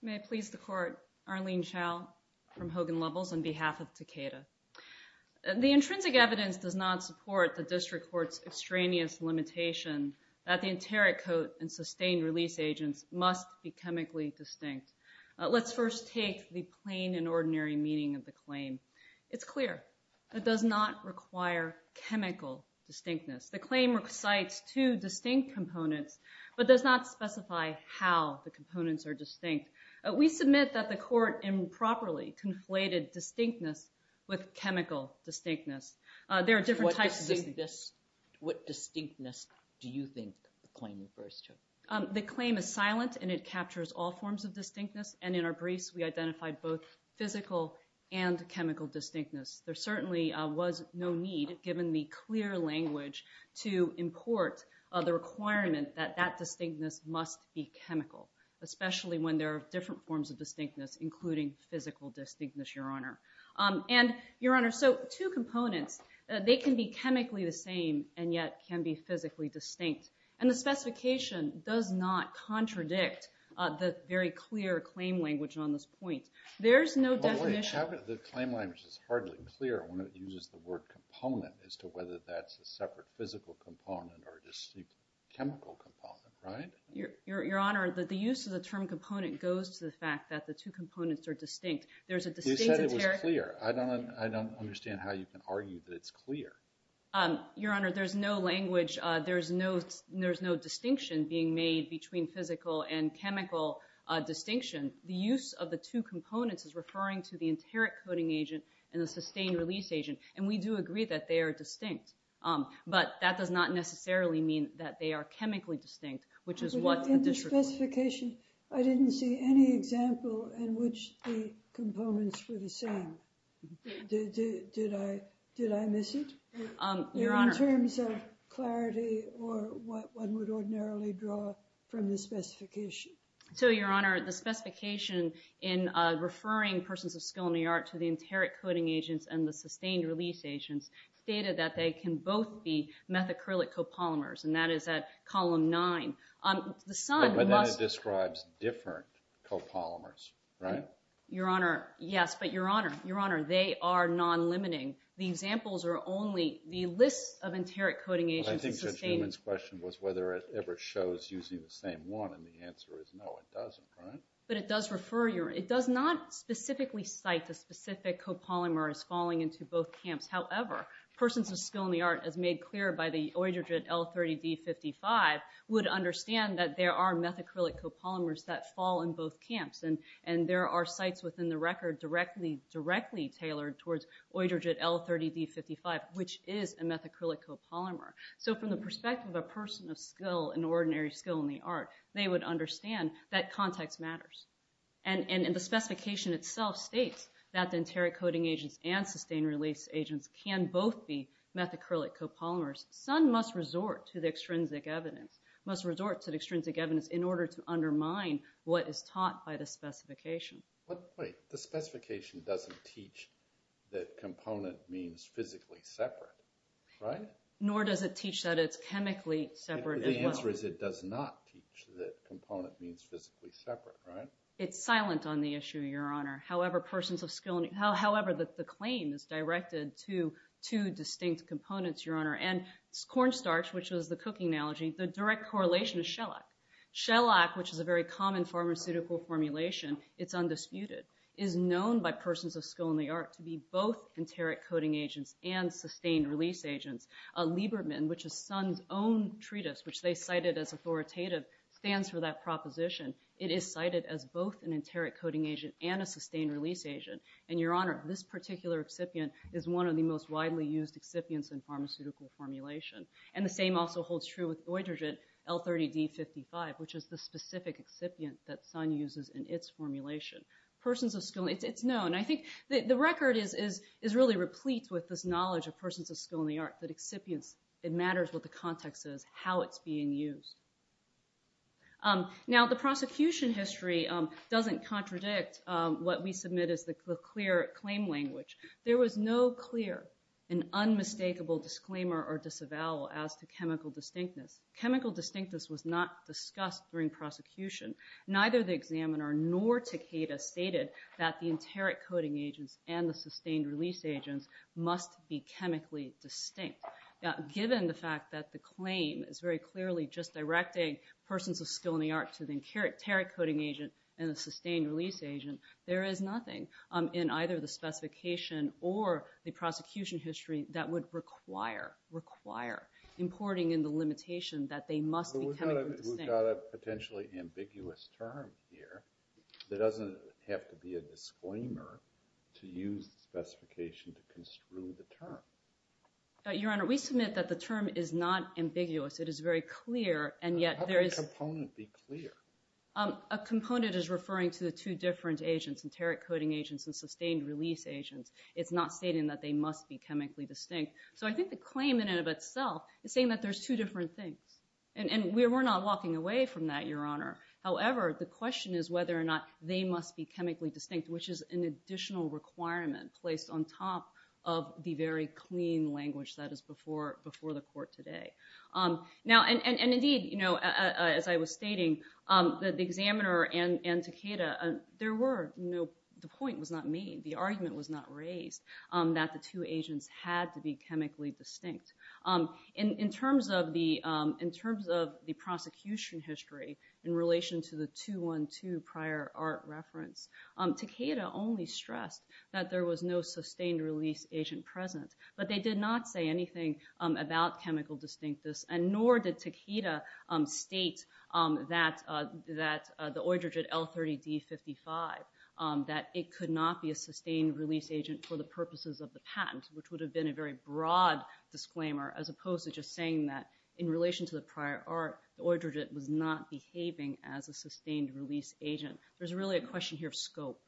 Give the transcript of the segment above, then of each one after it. May I please the court, Arlene Chow from Hogan Levels on behalf of Takeda. The intrinsic evidence does not support the district court's extraneous limitation that the enteric coat and sustained release agents must be chemically distinct. Let's first take the plain and ordinary meaning of the claim. It's clear it does not require chemical distinctness. The claim recites two distinct components but does not specify how the components are distinct. We submit that the court improperly conflated distinctness with chemical distinctness. There are different types of this. What distinctness do you think the claim refers to? The claim is silent and it captures all forms of distinctness and in our briefs we identified both physical and chemical distinctness. There certainly was no need given the clear language to import the requirement that that distinctness must be chemical, especially when there are different forms of distinctness including physical distinctness, Your Honor. And, Your Honor, so two components they can be chemically the same and yet can be physically distinct and the specification does not contradict the very clear claim language on this point. There's no definition. The claim language is hardly clear when it uses the word component as to whether that's a separate physical component or a chemical component, right? Your Honor, the use of the term component goes to the fact that the two components are distinct. There's a distinct... You said it was clear. I don't understand how you can argue that it's clear. Your Honor, there's no language, there's no distinction being made between physical and chemical distinction. The use of the two components is referring to the enteric coding agent and the sustained release agent and we do agree that they are chemically distinct, which is what the district... But in the specification, I didn't see any example in which the components were the same. Did I miss it? Your Honor... In terms of clarity or what one would ordinarily draw from the specification. So, Your Honor, the specification in referring persons of skill in the art to the enteric coding agents and the sustained release agents stated that they can both be methacrylate copolymers and that is at column 9. But then it describes different copolymers, right? Your Honor, yes, but Your Honor, they are non-limiting. The examples are only... The list of enteric coding agents... I think Judge Newman's question was whether it ever shows using the same one and the answer is no, it doesn't, right? But it does refer... It does not specifically cite the specific copolymer as falling into both camps. However, persons of skill in the art, as made clear by the OIDRGID L30D55, would understand that there are methacrylate copolymers that fall in both camps. And there are sites within the record directly tailored towards OIDRGID L30D55, which is a methacrylate copolymer. So, from the perspective of a person of skill, an ordinary skill in the art, they would understand that context matters. And the specification itself states that the enteric coding agents and sustained release agents can both be methacrylate copolymers. Some must resort to the extrinsic evidence, must resort to the extrinsic evidence in order to undermine what is taught by the specification. But wait, the specification doesn't teach that component means physically separate, right? Nor does it teach that it's chemically separate as well. The answer is it does not teach that component means physically separate, right? It's silent on the issue, Your Honor. However, persons of skill... However, the claim is directed to two distinct components, Your Honor. And cornstarch, which is the cooking analogy, the direct correlation is shellac. Shellac, which is a very common pharmaceutical formulation, it's undisputed, is known by persons of skill in the art to be both enteric coding agents and sustained release agents. Lieberman, which is Sun's own treatise, which they cited as authoritative, stands for that proposition. It is cited as both an enteric coding agent and a sustained release agent. And, Your Honor, this particular excipient is one of the most widely used excipients in pharmaceutical formulation. And the same also holds true with deuterogen L30D55, which is the specific excipient that Sun uses in its formulation. It's known. I think the record is really replete with this knowledge of persons of skill in the art that excipients, it matters what the context is, how it's being used. Now, the prosecution history doesn't contradict what we submit as the clear claim language. There was no clear and unmistakable disclaimer or disavowal as to chemical distinctness. Chemical distinctness was not discussed during prosecution. Neither the examiner nor Takeda stated that the enteric coding agents and the sustained release agents must be chemically distinct. Now, given the fact that the claim is very clearly just directing persons of skill in the art to the enteric coding agent and the sustained release agent, there is nothing in either the specification or the prosecution history that would require, require, importing in the limitation that they must be chemically distinct. We've got a potentially ambiguous term here that doesn't have to be a disclaimer to use the specification to construe the term. Your Honor, we submit that the term is not ambiguous. It is very clear, and yet there is... How can a component be clear? A component is referring to the two different agents, enteric coding agents and sustained release agents. It's not stating that they must be chemically distinct. So I think the claim in and of itself is saying that there's two different things. And we're not walking away from that, Your Honor. However, the question is whether or not they must be chemically distinct, which is an additional requirement placed on top of the very clean language that is before the court today. Now, and indeed, you know, as I was stating, the examiner and Takeda, there were no... The point was not made. The argument was not raised that the two agents had to be chemically distinct. In terms of the prosecution history in relation to the 2-1-2 prior art reference, Takeda only stressed that there was no sustained release agent present. But they did not say anything about chemical distinctness, and nor did Takeda state that the oidrogid L30D55, that it could not be a sustained release agent for the purposes of the patent, which would have been a very broad disclaimer, as opposed to just saying that in relation to the prior art, the oidrogid was not behaving as a sustained release agent. There's really a question here of scope.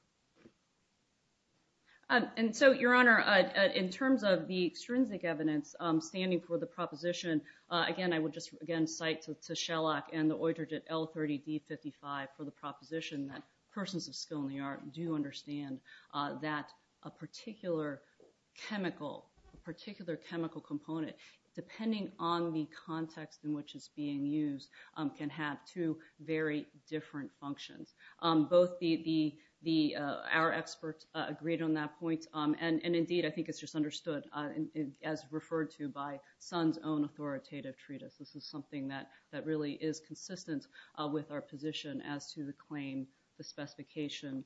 And so, Your Honor, in terms of the extrinsic evidence standing for the proposition, again, I would just, again, cite to Shellock and the oidrogid L30D55 for the proposition that persons of skill in the art do understand that a particular chemical, a particular chemical component, depending on the context in which it's being used, can have two very different functions. Both our experts agreed on that point, and indeed, I think it's just understood as referred to by Sun's own authoritative treatise. This is something that really is consistent with our position as to the claim, the specification,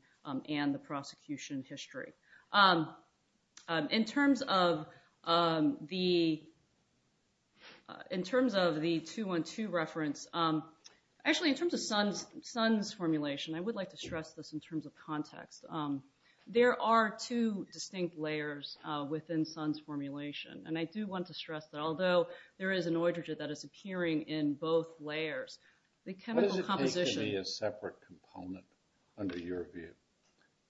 and the prosecution history. In terms of the 212 reference, actually, in terms of Sun's formulation, I would like to stress this in terms of context. There are two distinct layers within Sun's formulation, and I do want to stress that although there is an oidrogid that is appearing in both layers, What does it take to be a separate component under your view?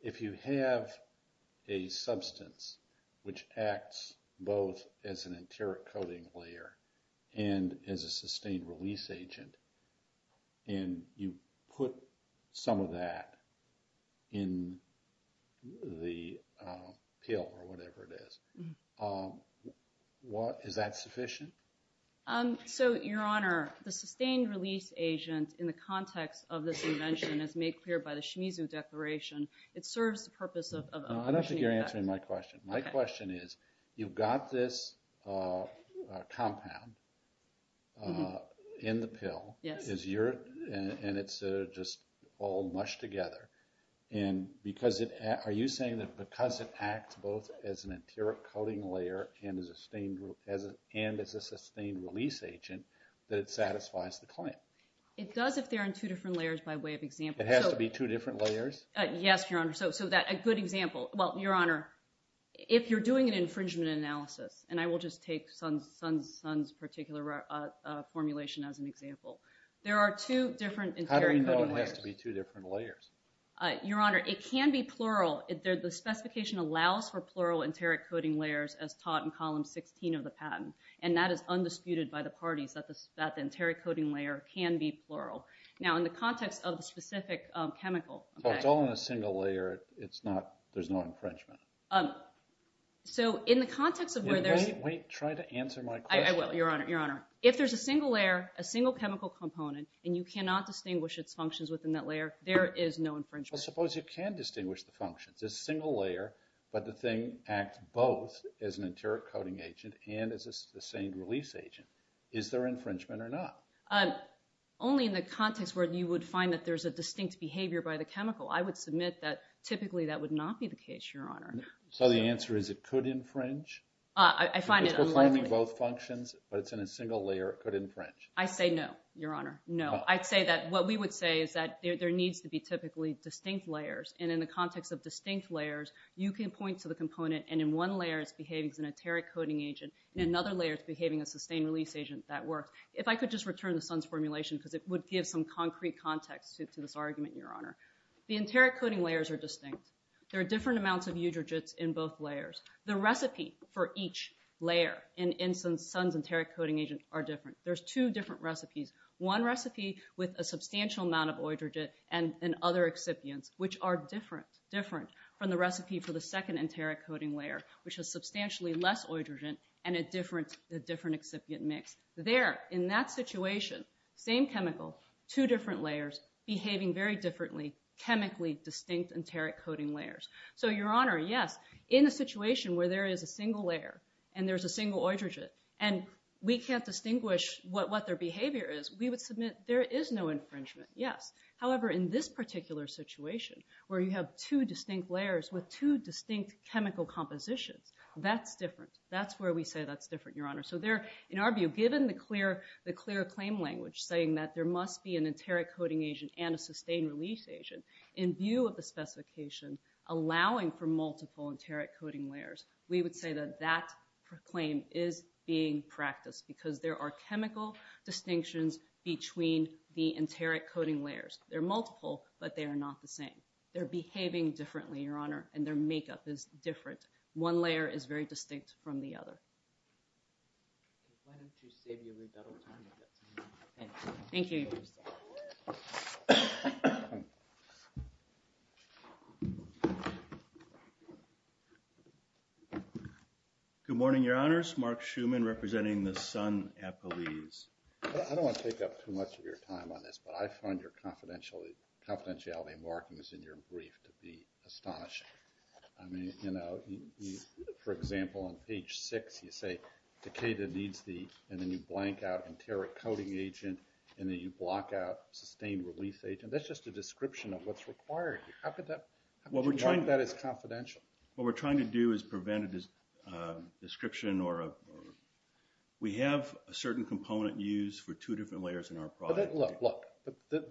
If you have a substance which acts both as an enteric coating layer and as a sustained release agent, and you put some of that in the pill or whatever it is, is that sufficient? Your Honor, the sustained release agent in the context of this invention is made clear by the Shimizu Declaration. It serves the purpose of... I don't think you're answering my question. My question is, you've got this compound in the pill, and it's just all mushed together. Are you saying that because it acts both as an enteric coating layer and as a sustained release agent, that it satisfies the claim? It does if they're in two different layers by way of example. It has to be two different layers? Yes, Your Honor. A good example. Well, Your Honor, if you're doing an infringement analysis, and I will just take Sun's particular formulation as an example, there are two different enteric coating layers. How do you know it has to be two different layers? Your Honor, it can be plural. The specification allows for plural enteric coating layers as taught in Column 16 of the patent, and that is undisputed by the parties that the enteric coating layer can be plural. Now, in the context of the specific chemical... So it's all in a single layer. There's no infringement? So in the context of where there's... Wait. Try to answer my question. I will, Your Honor. If there's a single layer, a single chemical component, and you cannot distinguish its functions within that layer, there is no infringement. Well, suppose you can distinguish the functions. It's a single layer, but the thing acts both as an enteric coating agent and as a sustained release agent. Is there infringement or not? Only in the context where you would find that there's a distinct behavior by the chemical. I would submit that typically that would not be the case, Your Honor. So the answer is it could infringe? I find it unlikely. So you're claiming both functions, but it's in a single layer. It could infringe? I say no, Your Honor. No. I'd say that what we would say is that there needs to be typically distinct layers, and in the context of distinct layers, you can point to the component, and in one layer it's behaving as an enteric coating agent, and in another layer it's behaving as a sustained release agent. That works. If I could just return to Sun's formulation because it would give some concrete context to this argument, Your Honor. The enteric coating layers are distinct. There are different amounts of eutrogytes in both layers. The recipe for each layer in Sun's enteric coating agent are different. There's two different recipes. One recipe with a substantial amount of eutrogyte and other excipients, which are different from the recipe for the second enteric coating layer, which is substantially less eutrogyte and a different excipient mix. There, in that situation, same chemical, two different layers behaving very differently, chemically distinct enteric coating layers. So, Your Honor, yes, in a situation where there is a single layer and there's a single eutrogyte and we can't distinguish what their behavior is, we would submit there is no infringement, yes. However, in this particular situation where you have two distinct layers with two distinct chemical compositions, that's different. That's where we say that's different, Your Honor. So there, in our view, given the clear claim language saying that there must be an enteric coating agent and a sustained release agent, in view of the specification allowing for multiple enteric coating layers, we would say that that claim is being practiced because there are chemical distinctions between the enteric coating layers. They're multiple, but they are not the same. They're behaving differently, Your Honor, and their makeup is different. One layer is very distinct from the other. Why don't you save your rebuttal time? Thank you. Good morning, Your Honors. Mark Schuman representing the Sun Appellees. I don't want to take up too much of your time on this, but I find your confidentiality markings in your brief to be astonishing. I mean, you know, for example, on page six you say, Takeda needs the, and then you blank out enteric coating agent, and then you block out sustained release agent. That's just a description of what's required. How could that, how could you mark that as confidential? What we're trying to do is prevent a description or a, we have a certain component used for two different layers in our product. Look, look,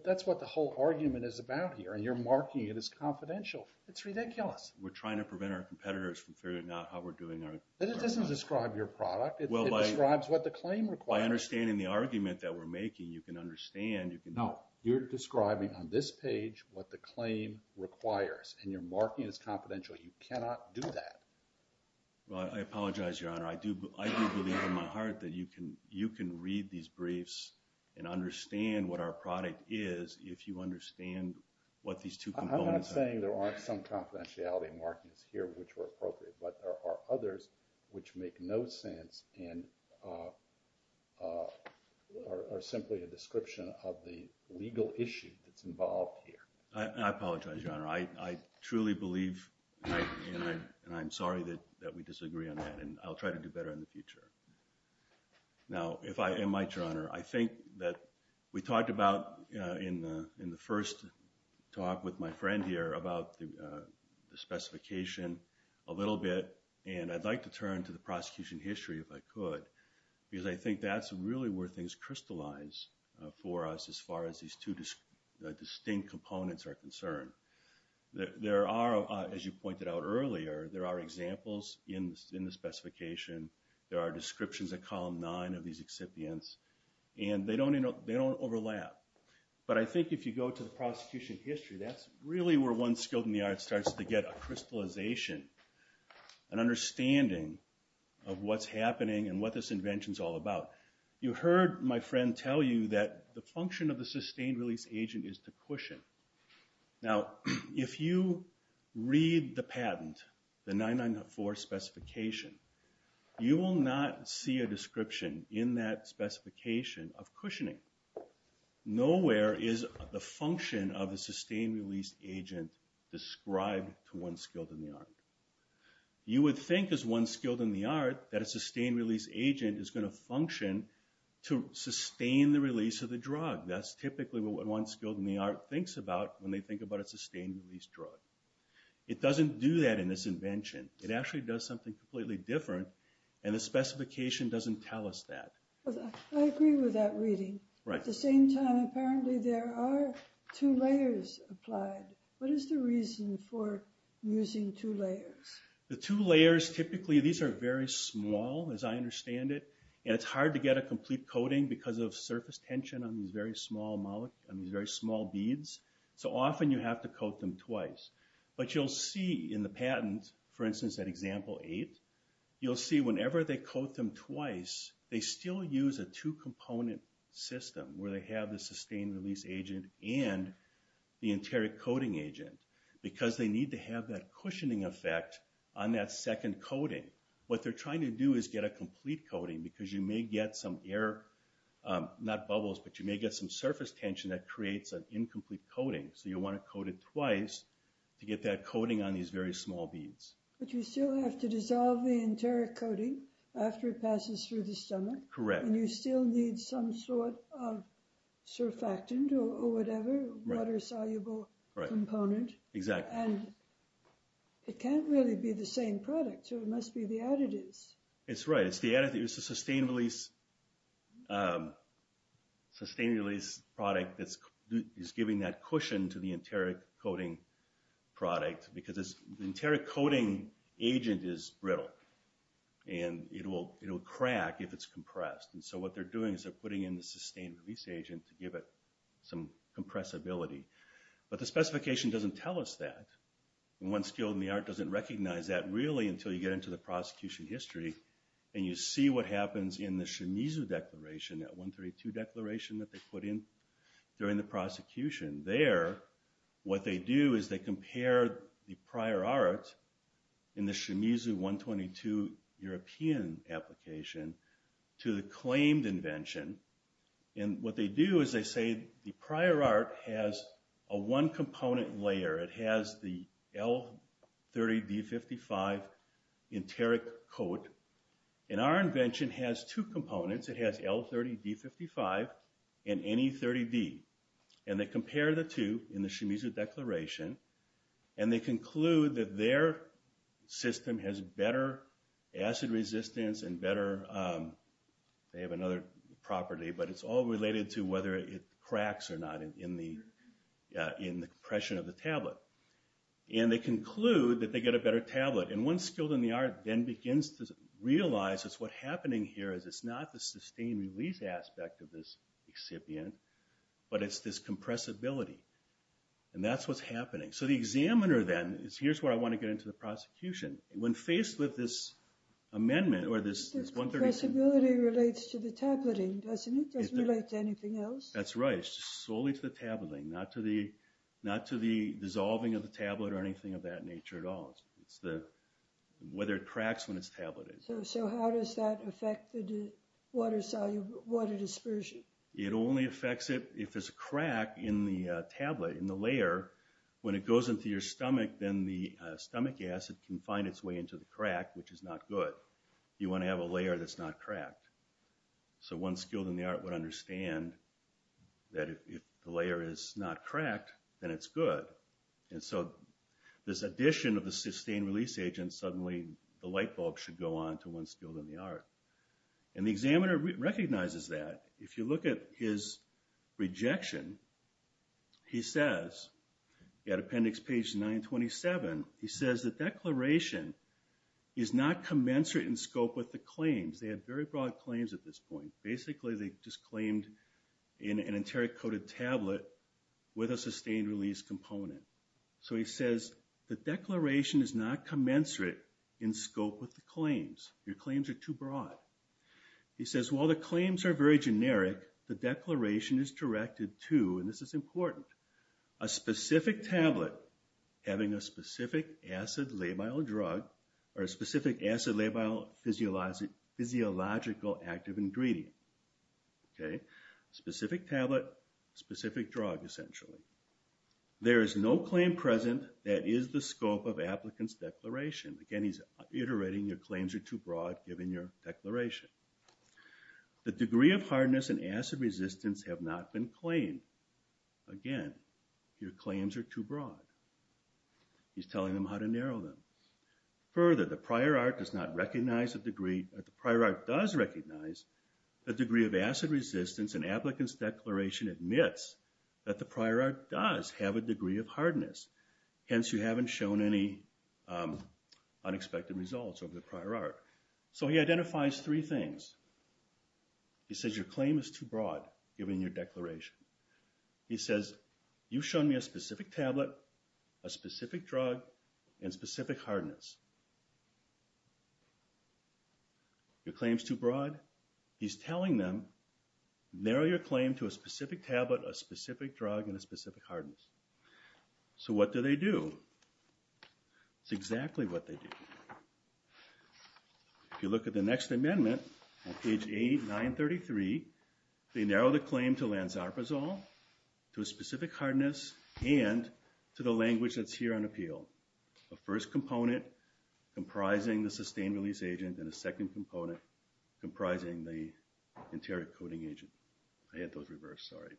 that's what the whole argument is about here, and you're marking it as confidential. It's ridiculous. We're trying to prevent our competitors from figuring out how we're doing our, But it doesn't describe your product. It describes what the claim requires. By understanding the argument that we're making, you can understand, you can, No, you're describing on this page what the claim requires, and you're marking it as confidential. You cannot do that. Well, I apologize, Your Honor. I do, I do believe in my heart that you can, you can read these briefs and understand what our product is if you understand what these two components are. I'm not saying there aren't some confidentiality markings here which were appropriate, but there are others which make no sense and are simply a description of the legal issue that's involved here. I apologize, Your Honor. I truly believe, and I'm sorry that we disagree on that, and I'll try to do better in the future. Now, if I am right, Your Honor, I think that we talked about in the first talk with my friend here about the specification a little bit, and I'd like to turn to the prosecution history if I could, because I think that's really where things crystallize for us as far as these two distinct components are concerned. There are, as you pointed out earlier, there are examples in the specification. There are descriptions at column nine of these excipients, and they don't overlap. But I think if you go to the prosecution history, that's really where one's skilled in the art starts to get a crystallization, an understanding of what's happening and what this invention's all about. You heard my friend tell you that the function of the sustained release agent is to cushion. Now, if you read the patent, the 994 specification, you will not see a description in that specification of cushioning. Nowhere is the function of the sustained release agent described to one's skilled in the art. You would think, as one's skilled in the art, that a sustained release agent is going to function to sustain the release of the drug. That's typically what one's skilled in the art thinks about when they think about a sustained release drug. It doesn't do that in this invention. It actually does something completely different, and the specification doesn't tell us that. I agree with that reading. At the same time, apparently there are two layers applied. What is the reason for using two layers? The two layers, typically, these are very small, as I understand it, and it's hard to get a complete coating because of surface tension on these very small beads. So often you have to coat them twice. But you'll see in the patent, for instance, at example eight, you'll see whenever they coat them twice, they still use a two-component system where they have the sustained release agent and the interior coating agent because they need to have that cushioning effect on that second coating. What they're trying to do is get a complete coating because you may get some air, not bubbles, but you may get some surface tension that creates an incomplete coating. So you'll want to coat it twice to get that coating on these very small beads. But you still have to dissolve the interior coating after it passes through the stomach. Correct. And you still need some sort of surfactant or whatever, water-soluble component. Exactly. And it can't really be the same product, so it must be the additives. That's right. It's the additive. It's the sustained release product that's giving that cushion to the interior coating product because the interior coating agent is brittle. And it will crack if it's compressed. And so what they're doing is they're putting in the sustained release agent to give it some compressibility. But the specification doesn't tell us that. And one skilled in the art doesn't recognize that really until you get into the prosecution history. And you see what happens in the Shimizu declaration, that 132 declaration that they put in during the prosecution. There, what they do is they compare the prior art in the Shimizu 122 European application to the claimed invention. And what they do is they say the prior art has a one-component layer. It has the L30D55 enteric coat. And our invention has two components. It has L30D55 and NE30D. And they compare the two in the Shimizu declaration. And they conclude that their system has better acid resistance and better they have another property, but it's all related to whether it cracks or not in the compression of the tablet. And they conclude that they get a better tablet. And one skilled in the art then begins to realize that what's happening here is it's not the sustained release aspect of this recipient, but it's this compressibility. And that's what's happening. So the examiner then is, here's where I want to get into the prosecution. When faced with this amendment or this 137... The compressibility relates to the tableting, doesn't it? It doesn't relate to anything else? That's right. It's solely to the tableting, not to the dissolving of the tablet or anything of that nature at all. It's whether it cracks when it's tableted. So how does that affect the water dispersion? It only affects it if there's a crack in the tablet, in the layer. However, when it goes into your stomach, then the stomach acid can find its way into the crack, which is not good. You want to have a layer that's not cracked. So one skilled in the art would understand that if the layer is not cracked, then it's good. And so this addition of the sustained release agent, suddenly the light bulb should go on to one skilled in the art. And the examiner recognizes that. If you look at his rejection, he says at appendix page 927, he says the declaration is not commensurate in scope with the claims. They had very broad claims at this point. Basically, they just claimed an enteric-coated tablet with a sustained release component. So he says the declaration is not commensurate in scope with the claims. Your claims are too broad. He says while the claims are very generic, the declaration is directed to, and this is important, a specific tablet having a specific acid labile drug or a specific acid labile physiological active ingredient. Specific tablet, specific drug, essentially. There is no claim present that is the scope of applicant's declaration. Again, he's iterating, your claims are too broad given your declaration. The degree of hardness and acid resistance have not been claimed. Again, your claims are too broad. He's telling them how to narrow them. Further, the prior art does recognize the degree of acid resistance and applicant's declaration admits that the prior art does have a degree of hardness. Hence, you haven't shown any unexpected results over the prior art. So he identifies three things. He says your claim is too broad given your declaration. He says you've shown me a specific tablet, a specific drug, and specific hardness. Your claim is too broad. He's telling them narrow your claim to a specific tablet, a specific drug, and a specific hardness. So what do they do? It's exactly what they do. If you look at the next amendment on page A933, they narrow the claim to lansarpazole, to a specific hardness, and to the language that's here on appeal. A first component comprising the sustained release agent and a second component comprising the interior coding agent. I had those reversed, sorry.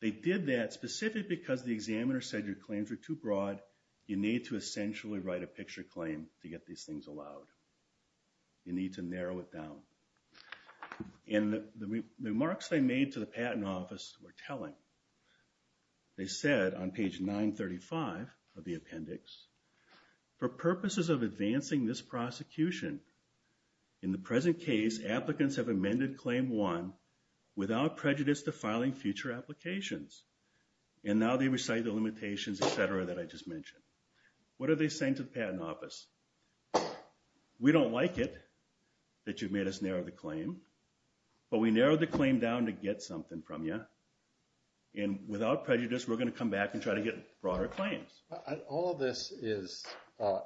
They did that specific because the examiner said your claims were too broad. You need to essentially write a picture claim to get these things allowed. You need to narrow it down. And the remarks they made to the patent office were telling. They said on page 935 of the appendix, for purposes of advancing this prosecution, in the present case, applicants have amended claim one without prejudice to filing future applications. And now they recite the limitations, et cetera, that I just mentioned. What are they saying to the patent office? We don't like it that you've made us narrow the claim, but we narrowed the claim down to get something from you. And without prejudice, we're going to come back and try to get broader claims. All of this is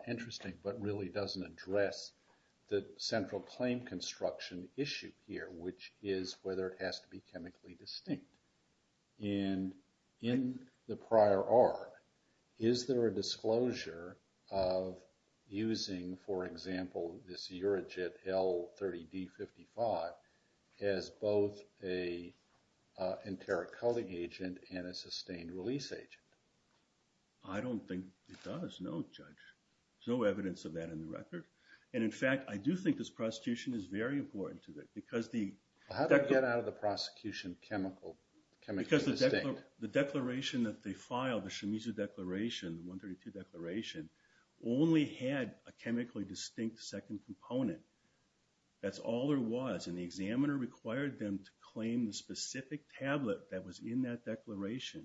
interesting, but really doesn't address the central claim construction issue here, which is whether it has to be chemically distinct. And in the prior art, is there a disclosure of using, for example, this Eurojet L-30D-55 as both an interior coding agent and a sustained release agent? I don't think it does, no, Judge. There's no evidence of that in the record. And in fact, I do think this prosecution is very important to that because the... How did it get out of the prosecution chemically distinct? Because the declaration that they filed, the Shimizu declaration, the 132 declaration, only had a chemically distinct second component. That's all there was. And the examiner required them to claim the specific tablet that was in that declaration.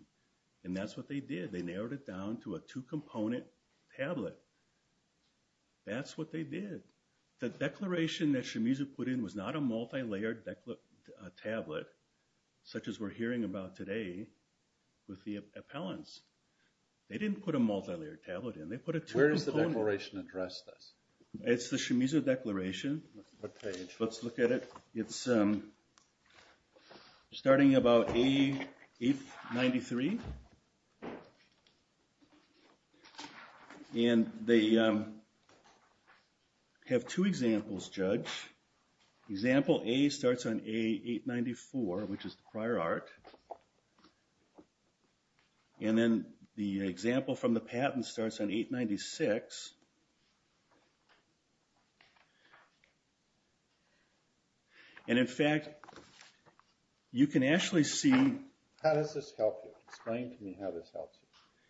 And that's what they did. They narrowed it down to a two-component tablet. That's what they did. The declaration that Shimizu put in was not a multilayered tablet, such as we're hearing about today with the appellants. They didn't put a multilayered tablet in. Where does the declaration address this? It's the Shimizu declaration. What page? Let's look at it. It's starting about A-93. And they have two examples, Judge. Example A starts on A-894, which is the prior art. And then the example from the patent starts on A-896. And in fact, you can actually see... How does this help you? Explain to me how this helps you,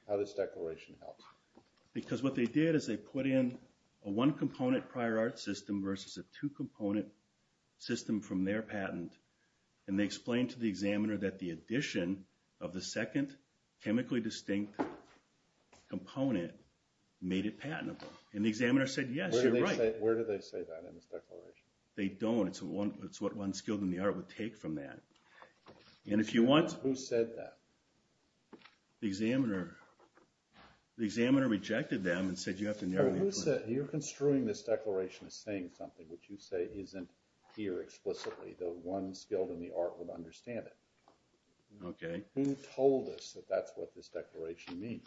how this declaration helps you. Because what they did is they put in a one-component prior art system versus a two-component system from their patent. And they explained to the examiner that the addition of the second chemically distinct component made it patentable. And the examiner said, yes, you're right. Where do they say that in this declaration? They don't. It's what one skilled in the art would take from that. And if you want... Who said that? The examiner. The examiner rejected them and said you have to narrow... Who said... You're construing this declaration as saying something which you say isn't here explicitly, though one skilled in the art would understand it. Okay. Who told us that that's what this declaration means?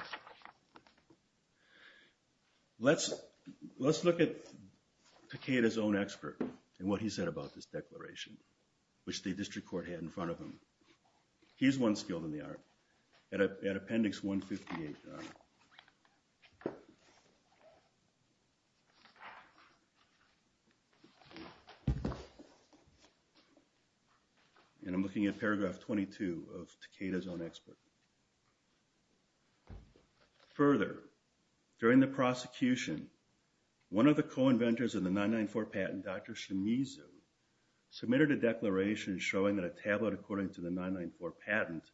Let's look at Takeda's own expert and what he said about this declaration, which the district court had in front of him. He's one skilled in the art. At appendix 158. And I'm looking at paragraph 22 of Takeda's own expert. Further, during the prosecution, one of the co-inventors of the 994 patent, Dr. Shimizu, submitted a declaration showing that a tablet, according to the 994 patent,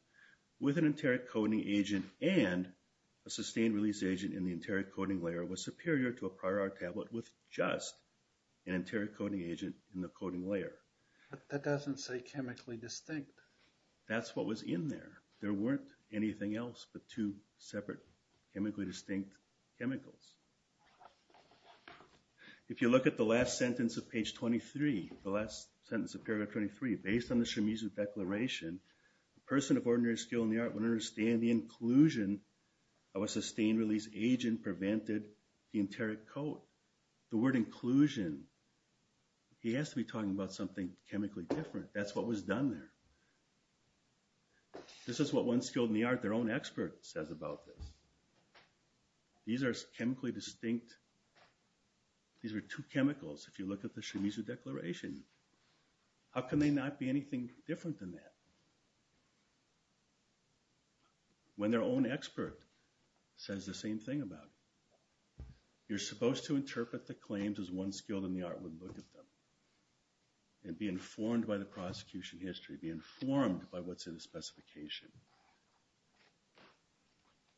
with an enteric coding agent and a sustained release agent in the enteric coding layer was superior to a prior art tablet with just an enteric coding agent in the coding layer. But that doesn't say chemically distinct. That's what was in there. There weren't anything else but two separate chemically distinct chemicals. If you look at the last sentence of page 23, the last sentence of paragraph 23, based on the Shimizu declaration, a person of ordinary skill in the art would understand the inclusion of a sustained release agent prevented the enteric code. The word inclusion, he has to be talking about something chemically different. That's what was done there. This is what one skilled in the art, their own expert, says about this. These are chemically distinct. These are two chemicals. If you look at the Shimizu declaration, how can they not be anything different than that? When their own expert says the same thing about it. You're supposed to interpret the claims as one skilled in the art would look at them and be informed by the prosecution history, be informed by what's in the specification.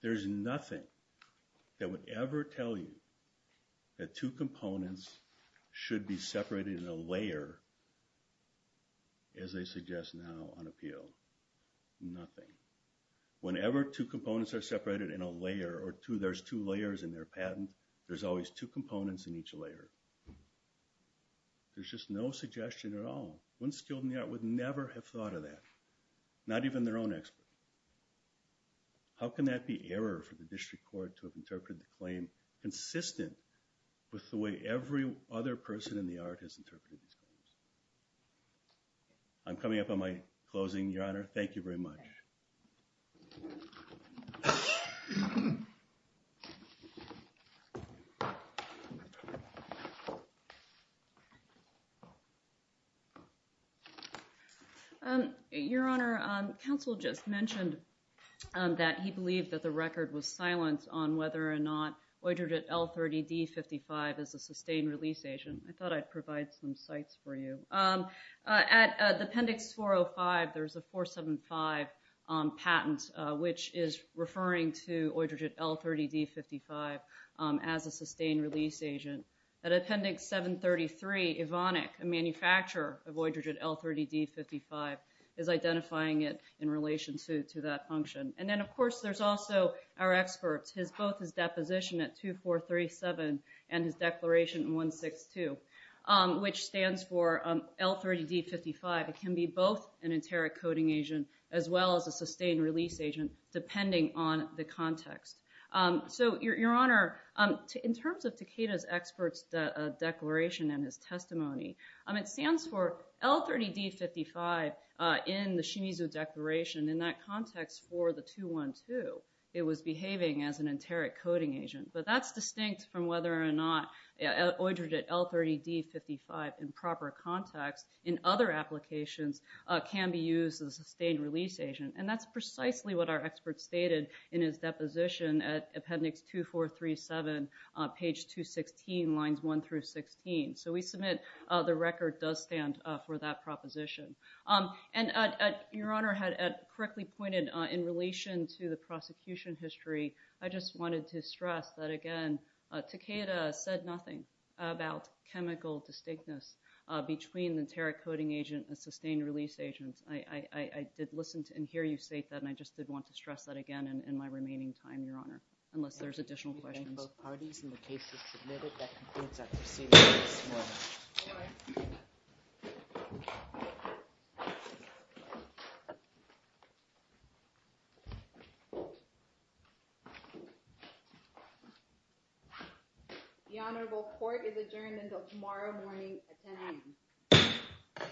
There's nothing that would ever tell you that two components should be separated in a layer, as they suggest now on appeal. Nothing. Whenever two components are separated in a layer, or there's two layers in their patent, there's always two components in each layer. There's just no suggestion at all. One skilled in the art would never have thought of that. Not even their own expert. How can that be error for the district court to have interpreted the claim consistent with the way every other person in the art has interpreted these claims? I'm coming up on my closing, Your Honor. Thank you very much. Your Honor, Counsel just mentioned that he believed that the record was silent on whether or not Eudritte L30D55 is a sustained release agent. I thought I'd provide some sites for you. At the Appendix 405, there's a 475 is a sustained release agent. I thought I'd provide some sites for you. At the Appendix 405, there's a 475 patent, which is referring to Eudritte L30D55 as a sustained release agent. At Appendix 733, Evonik, a manufacturer of Eudritte L30D55, is identifying it in relation to that function. And then, of course, there's also our experts. Both his deposition at 2437 and his declaration in 162, which stands for L30D55. It can be both an enteric coding agent as well as a sustained release agent depending on the context. So, Your Honor, in terms of Takeda's expert's declaration and his testimony, it stands for L30D55 in the Shimizu Declaration. In that context, for the 212, it was behaving as an enteric coding agent. But that's distinct from whether or not Eudritte L30D55 in proper context in other applications can be used as a sustained release agent. And that's precisely what our experts stated in his deposition at Appendix 2437, page 216, lines 1 through 16. So we submit the record does stand for that proposition. And Your Honor had correctly pointed in relation to the prosecution history, I just wanted to stress that, again, Takeda said nothing about chemical distinctness between the enteric coding agent and sustained release agents. I did listen to and hear you state that and I just did want to stress that again in my remaining time, Your Honor, unless there's additional questions. The honorable court is adjourned until tomorrow morning at 10 a.m.